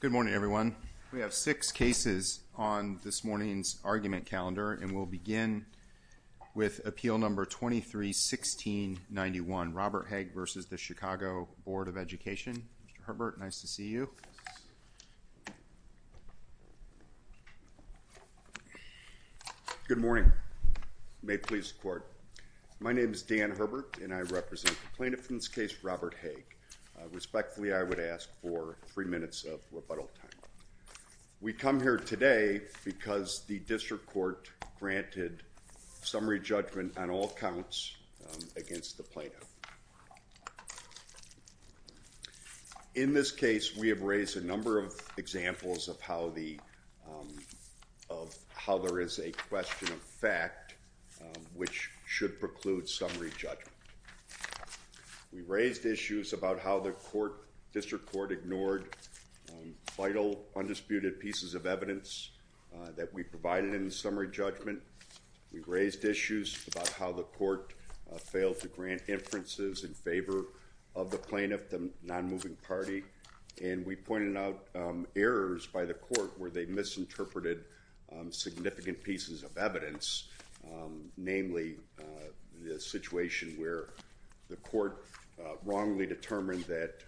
Good morning, everyone. We have six cases on this morning's argument calendar. And we'll begin with appeal number 23-1691, Robert Hague v. The Chicago Board of Education. Mr. Herbert, nice to see you. Good morning. May it please the court. My name is Dan Herbert, and I represent the plaintiff in this case, Robert Hague. Respectfully, I would ask for three minutes of rebuttal time. We come here today because the district court granted summary judgment on all counts against the plaintiff. In this case, we have raised a number of examples of how there is a question of fact which should preclude summary judgment. We raised issues about how the court, district court, ignored vital, undisputed pieces of evidence that we provided in the summary judgment. We raised issues about how the court failed to grant inferences in favor of the plaintiff, the non-moving party. And we pointed out errors by the court where they misinterpreted significant pieces of evidence, namely the situation where the court wrongly determined that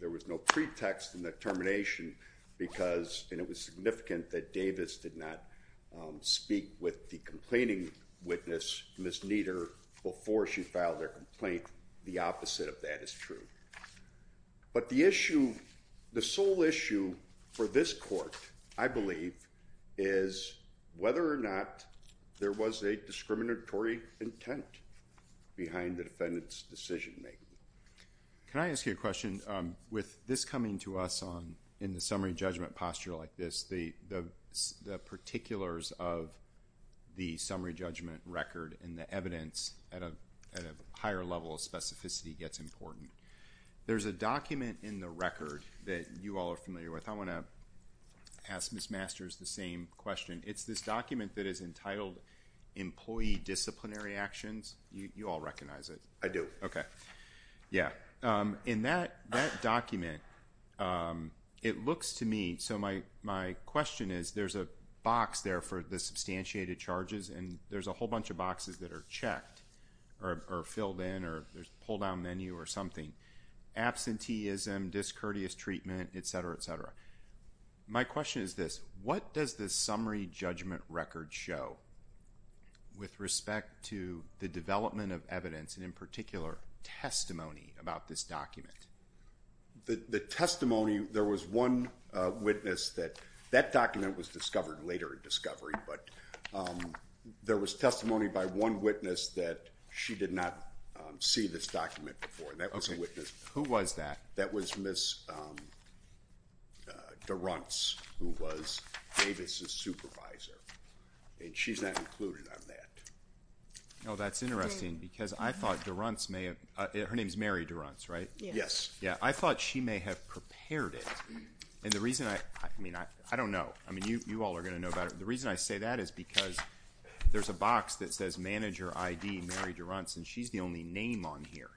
there was no pretext in the termination because it was significant that Davis did not speak with the complaining witness, Ms. Nieder, before she filed her complaint. The opposite of that is true. But the issue, the sole issue for this court, I believe, is whether or not there was a discriminatory intent behind the defendant's decision making. Can I ask you a question? With this coming to us in the summary judgment posture like this, the particulars of the summary judgment record and the evidence at a higher level of specificity gets important. There's a document in the record that you all are familiar with. I want to ask Ms. Masters the same question. It's this document that is entitled Employee Disciplinary Actions. You all recognize it. I do. Yeah. In that document, it looks to me, so my question is, there's a box there for the substantiated charges. And there's a whole bunch of boxes that are checked or filled in or there's a pull down menu or something. Absenteeism, discourteous treatment, et cetera, et cetera. My question is this. What does this summary judgment record show with respect to the development of evidence and, in particular, testimony about this document? The testimony, there was one witness that that document was discovered later in discovery. But there was testimony by one witness that she did not see this document before. Who was that? That was Ms. DeRuntz, who was Davis's supervisor. And she's not included on that. Oh, that's interesting, because I thought DeRuntz may have, her name's Mary DeRuntz, right? Yes. Yeah, I thought she may have prepared it. And the reason I, I mean, I don't know. I mean, you all are going to know about it. The reason I say that is because there's a box that says manager ID, Mary DeRuntz, and she's the only name on here.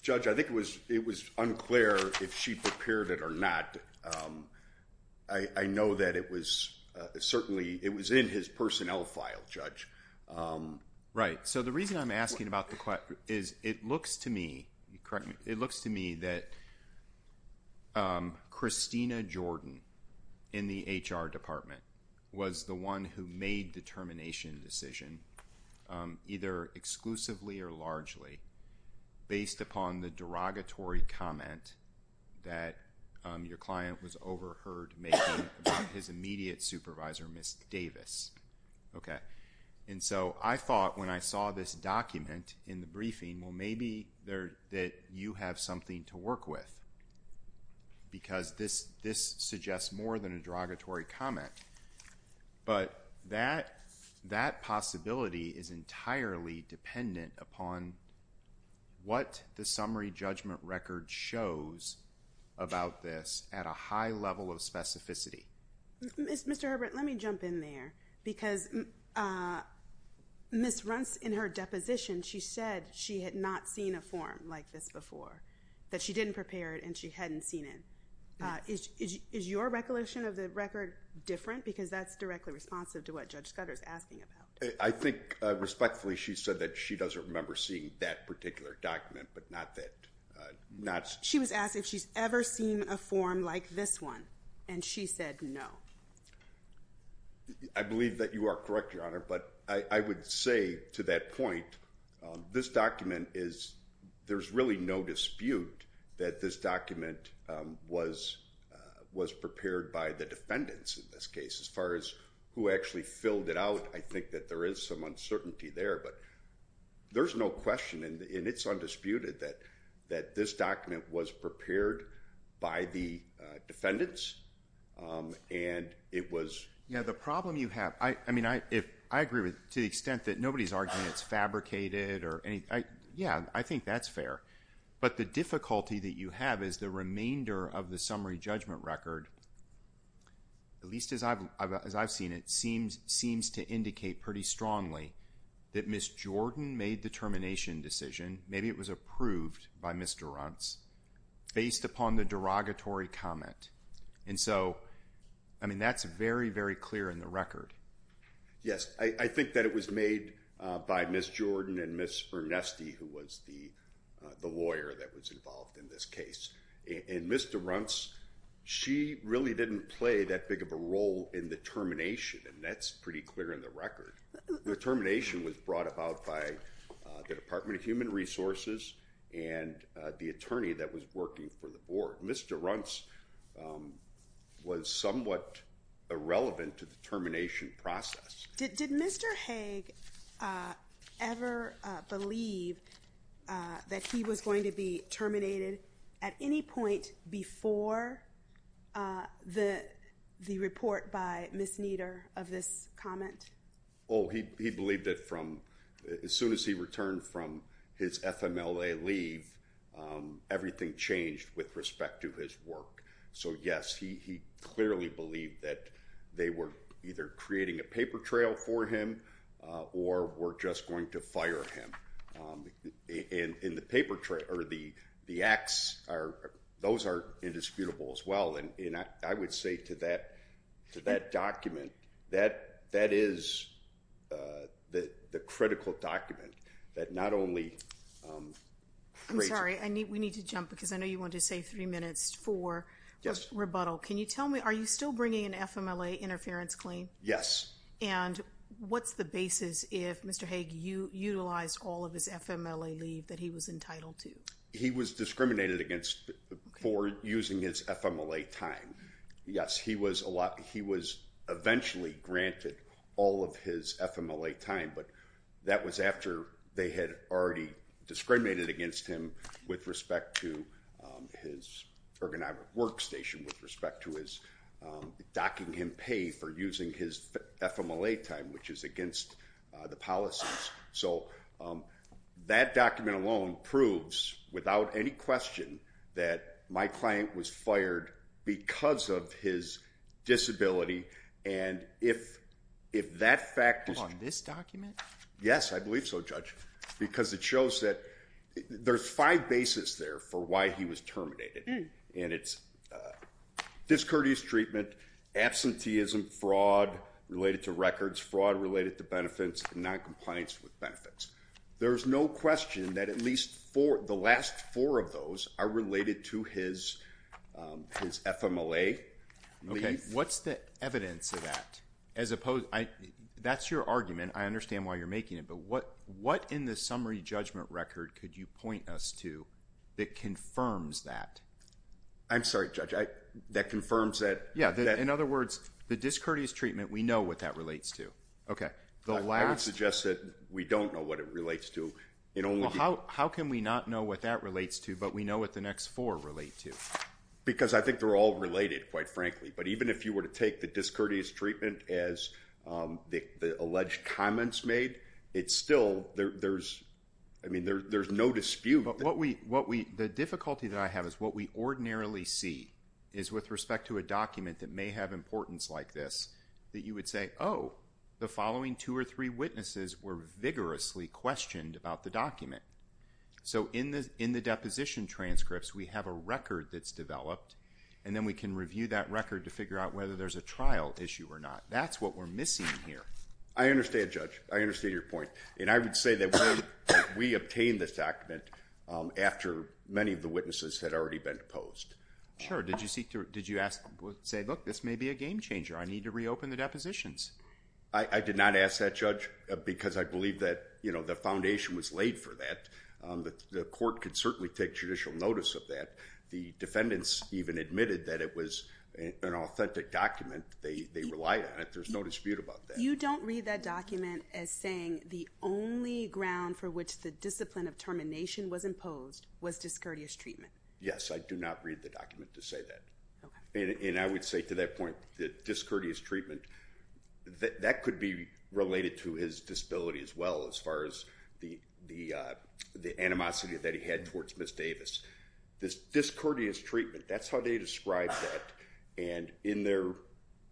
Judge, I think it was unclear if she prepared it or not. I know that it was certainly, it was in his personnel file, Judge. Right. So the reason I'm asking about the question is it looks to me, correct me, it looks to me that Christina Jordan in the HR department was the one who made the termination decision, either exclusively or largely, based upon the derogatory comment that your client was overheard making about his immediate supervisor, Ms. Davis, OK? And so I thought when I saw this document in the briefing, well, maybe that you have something to work with, because this suggests more than a derogatory comment. But that possibility is entirely dependent upon what the summary judgment record shows about this at a high level of specificity. Mr. Herbert, let me jump in there, because Ms. DeRuntz, in her deposition, she said she had not seen a form like this before, that she didn't prepare it and she hadn't seen it. Is your recollection of the record different, because that's directly responsive to what Judge Scudder is asking about? I think, respectfully, she said that she doesn't remember seeing that particular document, but not that. She was asked if she's ever seen a form like this one, and she said no. I believe that you are correct, Your Honor, but I would say to that point, this document is, there's really no dispute that this document was prepared by the defendants, in this case. As far as who actually filled it out, I think that there is some uncertainty there. But there's no question, and it's undisputed, that this document was prepared by the defendants, and it was. Yeah, the problem you have, I mean, I agree to the extent that nobody's arguing it's fabricated or anything. Yeah, I think that's fair. But the difficulty that you have is the remainder of the summary judgment record, at least as I've seen it, seems to indicate pretty strongly that Ms. Jordan made the termination decision, maybe it was approved by Ms. Durrance, based upon the derogatory comment. And so, I mean, that's very, very clear in the record. Yes, I think that it was made by Ms. Jordan and Ms. Ernesti, who was the lawyer that was involved in this case. And Ms. Durrance, she really didn't play that big of a role in the termination, and that's pretty clear in the record. The termination was brought about by the Department of Human Resources and the attorney that was working for the board. Ms. Durrance was somewhat irrelevant to the termination process. Did Mr. Haig ever believe that he was going to be terminated at any point before the report by Ms. Nieder of this comment? Oh, he believed it from as soon as he returned from his FMLA leave, everything changed with respect to his work. So yes, he clearly believed that they were either creating a paper trail for him, or were just going to fire him. And the acts, those are indisputable as well. And I would say to that document, that is the critical document that not only creates. I'm sorry, we need to jump, because I know you wanted to say three minutes for rebuttal. Can you tell me, are you still bringing an FMLA interference claim? Yes. And what's the basis if Mr. Haig utilized all of his FMLA leave that he was entitled to? He was discriminated against for using his FMLA time. Yes, he was eventually granted all of his FMLA time, but that was after they had already discriminated against him with respect to his ergonomic workstation, with respect to his docking him pay for using his FMLA time, which is against the policies. So that document alone proves, without any question, that my client was fired because of his disability. And if that fact is true. On this document? Yes, I believe so, Judge. Because it shows that there's five bases there for why he was terminated. And it's discourteous treatment, absenteeism, fraud related to records, fraud related to benefits, noncompliance with benefits. There's no question that at least the last four of those are related to his FMLA leave. What's the evidence of that? That's your argument. I understand why you're making it, but what in the summary judgment record could you point us to that confirms that? I'm sorry, Judge. That confirms that. Yeah, in other words, the discourteous treatment, we know what that relates to. OK, the last. I would suggest that we don't know what it relates to. How can we not know what that relates to, but we know what the next four relate to? Because I think they're all related, quite frankly. But even if you were to take the discourteous treatment as the alleged comments made, it's still, I mean, there's no dispute. The difficulty that I have is what we ordinarily see is with respect to a document that may have importance like this, that you would say, oh, the following two or three witnesses were vigorously questioned about the document. So in the deposition transcripts, we have a record that's developed, and then we can review that record to figure out whether there's a trial issue or not. That's what we're missing here. I understand, Judge. I understand your point. And I would say that we obtained this document after many of the witnesses had already been deposed. Sure. Did you say, look, this may be a game changer. I need to reopen the depositions. I did not ask that, Judge, because I believe that the foundation was laid for that. The court could certainly take judicial notice of that. The defendants even admitted that it was an authentic document. They relied on it. There's no dispute about that. You don't read that document as saying the only ground for which the discipline of termination was imposed was discourteous treatment. Yes, I do not read the document to say that. And I would say to that point that discourteous treatment, that could be related to his disability as well as far as the animosity that he had towards Ms. Davis. This discourteous treatment, that's how they described that. And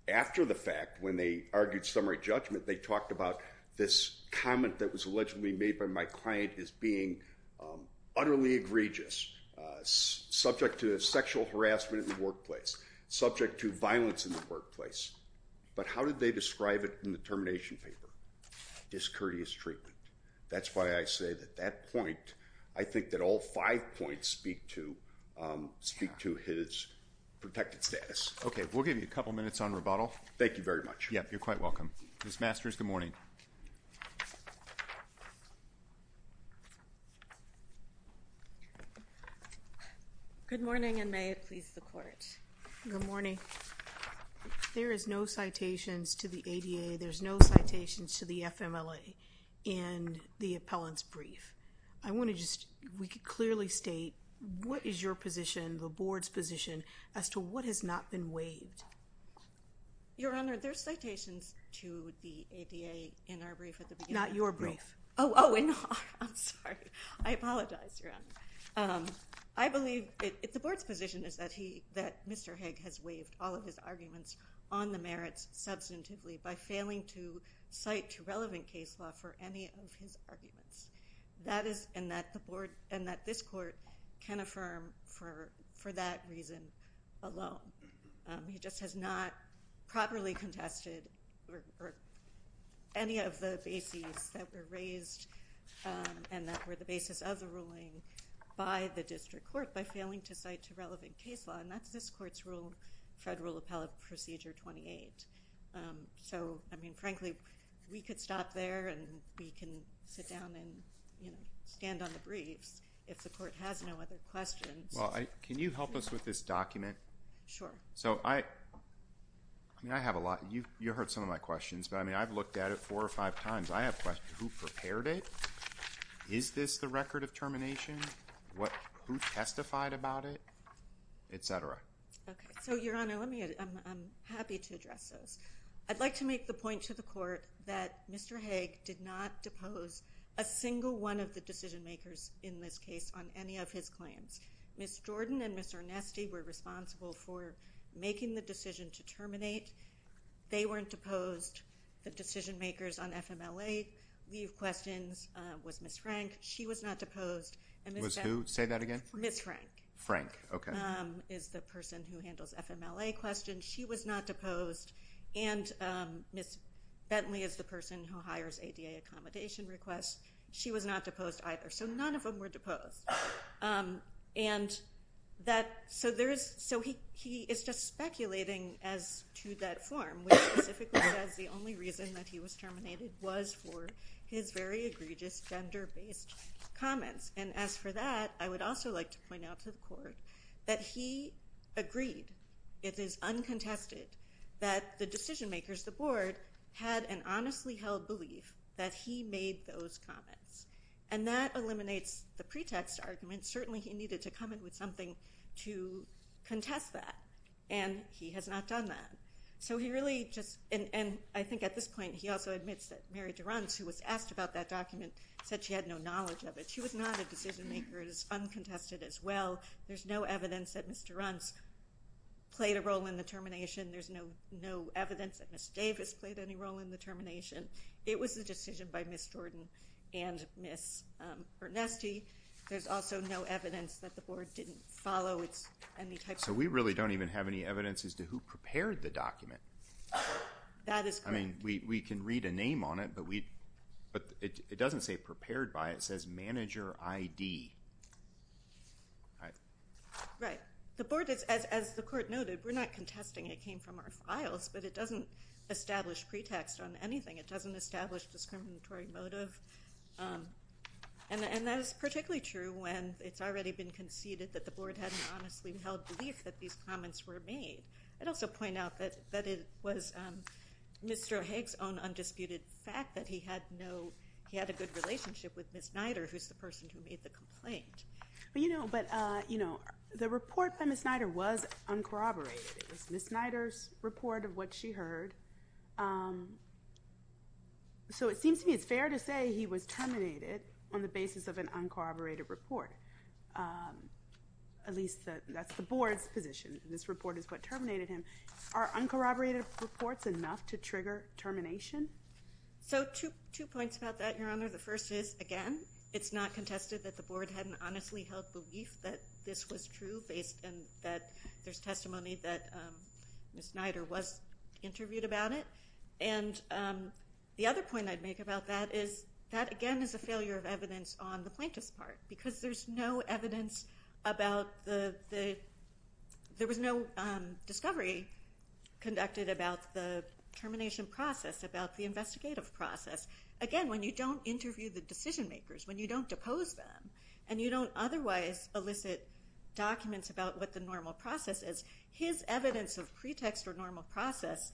after the fact, when they argued summary judgment, they talked about this comment that was allegedly made by my client as being utterly egregious, subject to sexual harassment in the workplace, subject to violence in the workplace. But how did they describe it in the termination paper? Discourteous treatment. That's why I say that that point, I think that all five points speak to his protected status. OK, we'll give you a couple minutes on rebuttal. Thank you very much. Yeah, you're quite welcome. Ms. Masters, good morning. Good morning, and may it please the court. Good morning. There is no citations to the ADA. There's no citations to the FMLA in the appellant's brief. I want to just, we could clearly state, what is your position, the board's position, as to what has not been waived? Your Honor, there's citations to the ADA in our brief at the beginning. Not your brief. Oh, oh, I'm sorry. I apologize, Your Honor. I believe the board's position is that Mr. Haig has waived all of his arguments on the merits substantively by failing to cite to relevant case law for any of his arguments, and that this court can affirm for that reason alone. He just has not properly contested any of the bases that were raised and that were the basis of the ruling by the district court by failing to cite to relevant case law, and that's this court's rule, Federal Appellate Procedure 28. So I mean, frankly, we could stop there, and we can sit down and stand on the briefs if the court has no other questions. Well, can you help us with this document? Sure. So I mean, I have a lot. You heard some of my questions, but I mean, I've looked at it four or five times. I have questions. Who prepared it? Is this the record of termination? Who testified about it, et cetera? OK, so Your Honor, I'm happy to address those. I'd like to make the point to the court that Mr. Haig did not depose a single one of the decision makers in this case on any of his claims. Ms. Jordan and Ms. Ernesti were responsible for making the decision to terminate. They weren't deposed. The decision makers on FMLA leave questions was Ms. Frank. She was not deposed. Was who? Say that again. Ms. Frank. Frank, OK. Is the person who handles FMLA questions. She was not deposed. And Ms. Bentley is the person who hires ADA accommodation requests. She was not deposed either. So none of them were deposed. And so he is just speculating as to that form, which specifically says the only reason that he was terminated was for his very egregious gender-based comments. And as for that, I would also like to point out to the court that he agreed, it is uncontested, that the decision makers, the board, had an honestly held belief that he made those comments. And that eliminates the pretext argument. Certainly, he needed to come in with something to contest that. And he has not done that. So he really just, and I think at this point, he also admits that Mary Durant, who was asked about that document, said she had no knowledge of it. She was not a decision maker. It is uncontested as well. There's no evidence that Ms. Durant played a role in the termination. There's no evidence that Ms. Davis played any role in the termination. It was a decision by Ms. Jordan and Ms. Ernesti. There's also no evidence that the board didn't follow. It's any type of- So we really don't even have any evidence as to who prepared the document. That is correct. We can read a name on it, but it doesn't say prepared by. It says manager ID. Right. The board, as the court noted, we're not contesting. It came from our files. But it doesn't establish pretext on anything. It doesn't establish discriminatory motive. And that is particularly true when it's already been conceded that the board hadn't honestly held belief that these comments were made. I'd also point out that it was Mr. Haig's own undisputed fact that he had a good relationship with Ms. Nider, who's the person who made the complaint. But the report by Ms. Nider was uncorroborated. It was Ms. Nider's report of what she heard. So it seems to me it's fair to say he was terminated on the basis of an uncorroborated report. At least, that's the board's position. This report is what terminated him. Are uncorroborated reports enough to trigger termination? So two points about that, Your Honor. The first is, again, it's not contested that the board hadn't honestly held belief that this was true and that there's testimony that Ms. Nider was interviewed about it. And the other point I'd make about that is that, again, is a failure of evidence on the plaintiff's part, because there was no discovery conducted about the termination process, about the investigative process. Again, when you don't interview the decision makers, when you don't depose them, and you don't otherwise elicit documents about what the normal process is, his evidence of pretext or normal process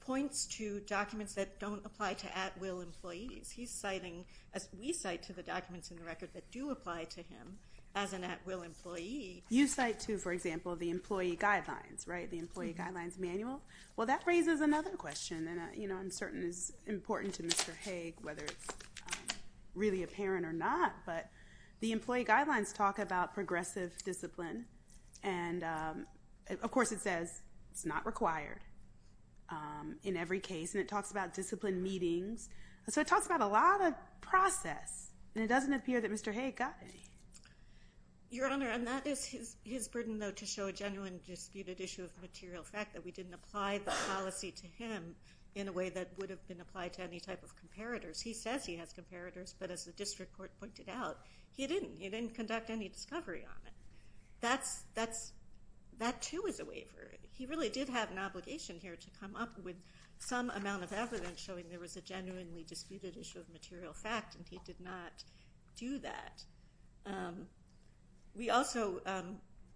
points to documents that don't apply to at-will employees. He's citing, as we cite, to the documents in the record that do apply to him as an at-will employee. You cite, too, for example, the employee guidelines, right? The employee guidelines manual? Well, that raises another question. And I'm certain it's important to Mr. Haig, whether it's really apparent or not. But the employee guidelines talk about progressive discipline. And of course, it says it's not required in every case. And it talks about discipline meetings. So it talks about a lot of process. And it doesn't appear that Mr. Haig got any. Your Honor, and that is his burden, though, to show a genuine disputed issue of material fact, that we didn't apply the policy to him in a way that would have been applied to any type of comparators. He says he has comparators. But as the district court pointed out, he didn't. He didn't conduct any discovery on it. That, too, is a waiver. He really did have an obligation here to come up with some amount of evidence showing there was a genuinely disputed issue of material fact. And he did not do that. We also,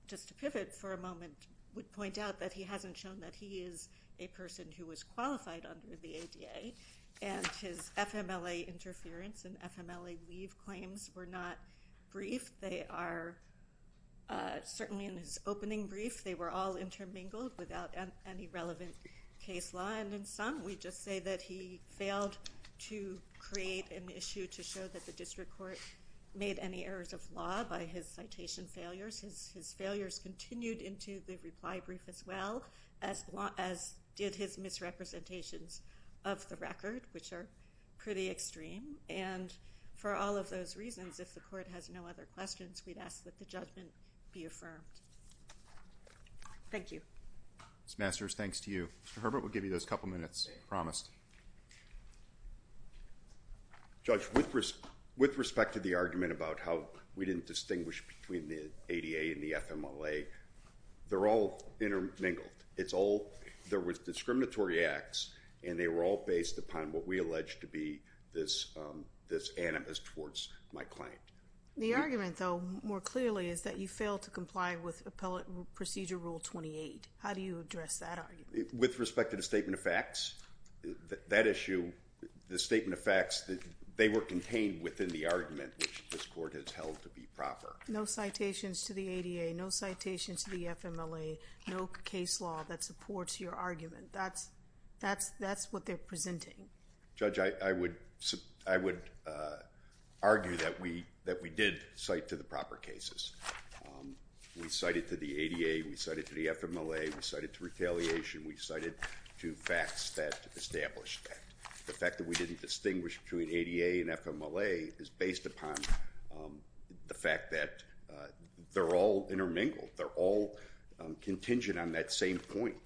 just to pivot for a moment, would point out that he hasn't shown that he is a person who was qualified under the ADA. And his FMLA interference and FMLA leave claims were not briefed. They are certainly in his opening brief. They were all intermingled without any relevant case law. And in some, we just say that he failed to create an issue to show that the district court made any errors of law by his citation failures. His failures continued into the reply brief as well as did his misrepresentations of the record, which are pretty extreme. And for all of those reasons, if the court has no other questions, we'd ask that the judgment be affirmed. Thank you. Ms. Masters, thanks to you. Mr. Herbert, we'll give you those couple minutes promised. Judge, with respect to the argument about how we didn't distinguish between the ADA and the FMLA, they're all intermingled. There was discriminatory acts. And they were all based upon what we allege to be this animus towards my claim. The argument, though, more clearly is that you failed to comply with Appellate Procedure Rule 28. How do you address that argument? With respect to the statement of facts, that issue, the statement of facts, they were contained within the argument which this court has held to be proper. No citations to the ADA. No citations to the FMLA. No case law that supports your argument. That's what they're presenting. Judge, I would argue that we did cite to the proper cases. We cited to the ADA. We cited to the FMLA. We cited to retaliation. We cited to facts that established that. The fact that we didn't distinguish between ADA and FMLA is based upon the fact that they're all intermingled. They're all contingent on that same point.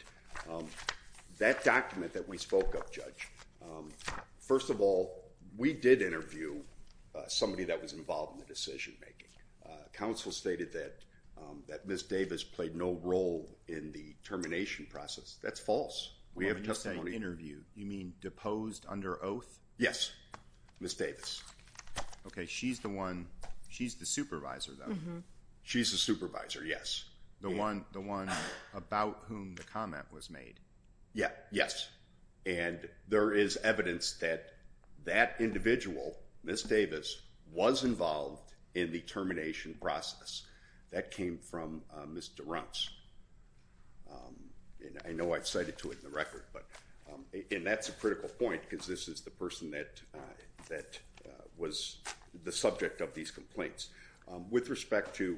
That document that we spoke of, Judge, first of all, we did interview somebody that was involved in the decision making. Counsel stated that Ms. Davis played no role in the termination process. That's false. We have a testimony. When you say interview, you mean deposed under oath? Yes, Ms. Davis. OK, she's the one. She's the supervisor, though. She's the supervisor, yes. The one about whom the comment was made. Yeah, yes. And there is evidence that that individual, Ms. Davis, was involved in the termination process. That came from Ms. DeRuntz. And I know I've cited to it in the record. And that's a critical point, because this is the person that was the subject of these complaints. With respect to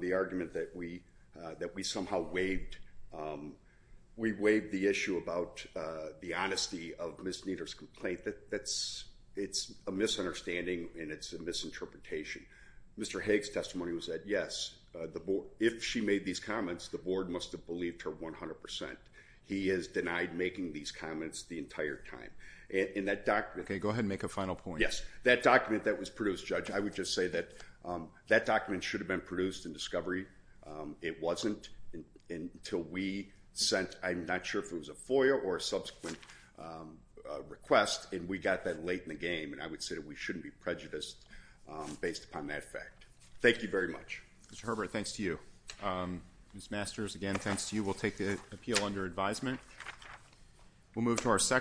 the argument that we somehow waived, we waived the issue about the honesty of Ms. Nieder's complaint. It's a misunderstanding, and it's a misinterpretation. Mr. Haig's testimony was that, yes, if she made these comments, the board must have believed her 100%. He is denied making these comments the entire time. In that document. OK, go ahead and make a final point. Yes, that document that was produced, Judge, I would just say that that document should have been produced in discovery. It wasn't until we sent, I'm not sure if it was a FOIA or a subsequent request, and we got that late in the game. And I would say that we shouldn't be prejudiced based upon that fact. Thank you very much. Mr. Herbert, thanks to you. Ms. Masters, again, thanks to you. We'll take the appeal under advisement. We'll move to our second.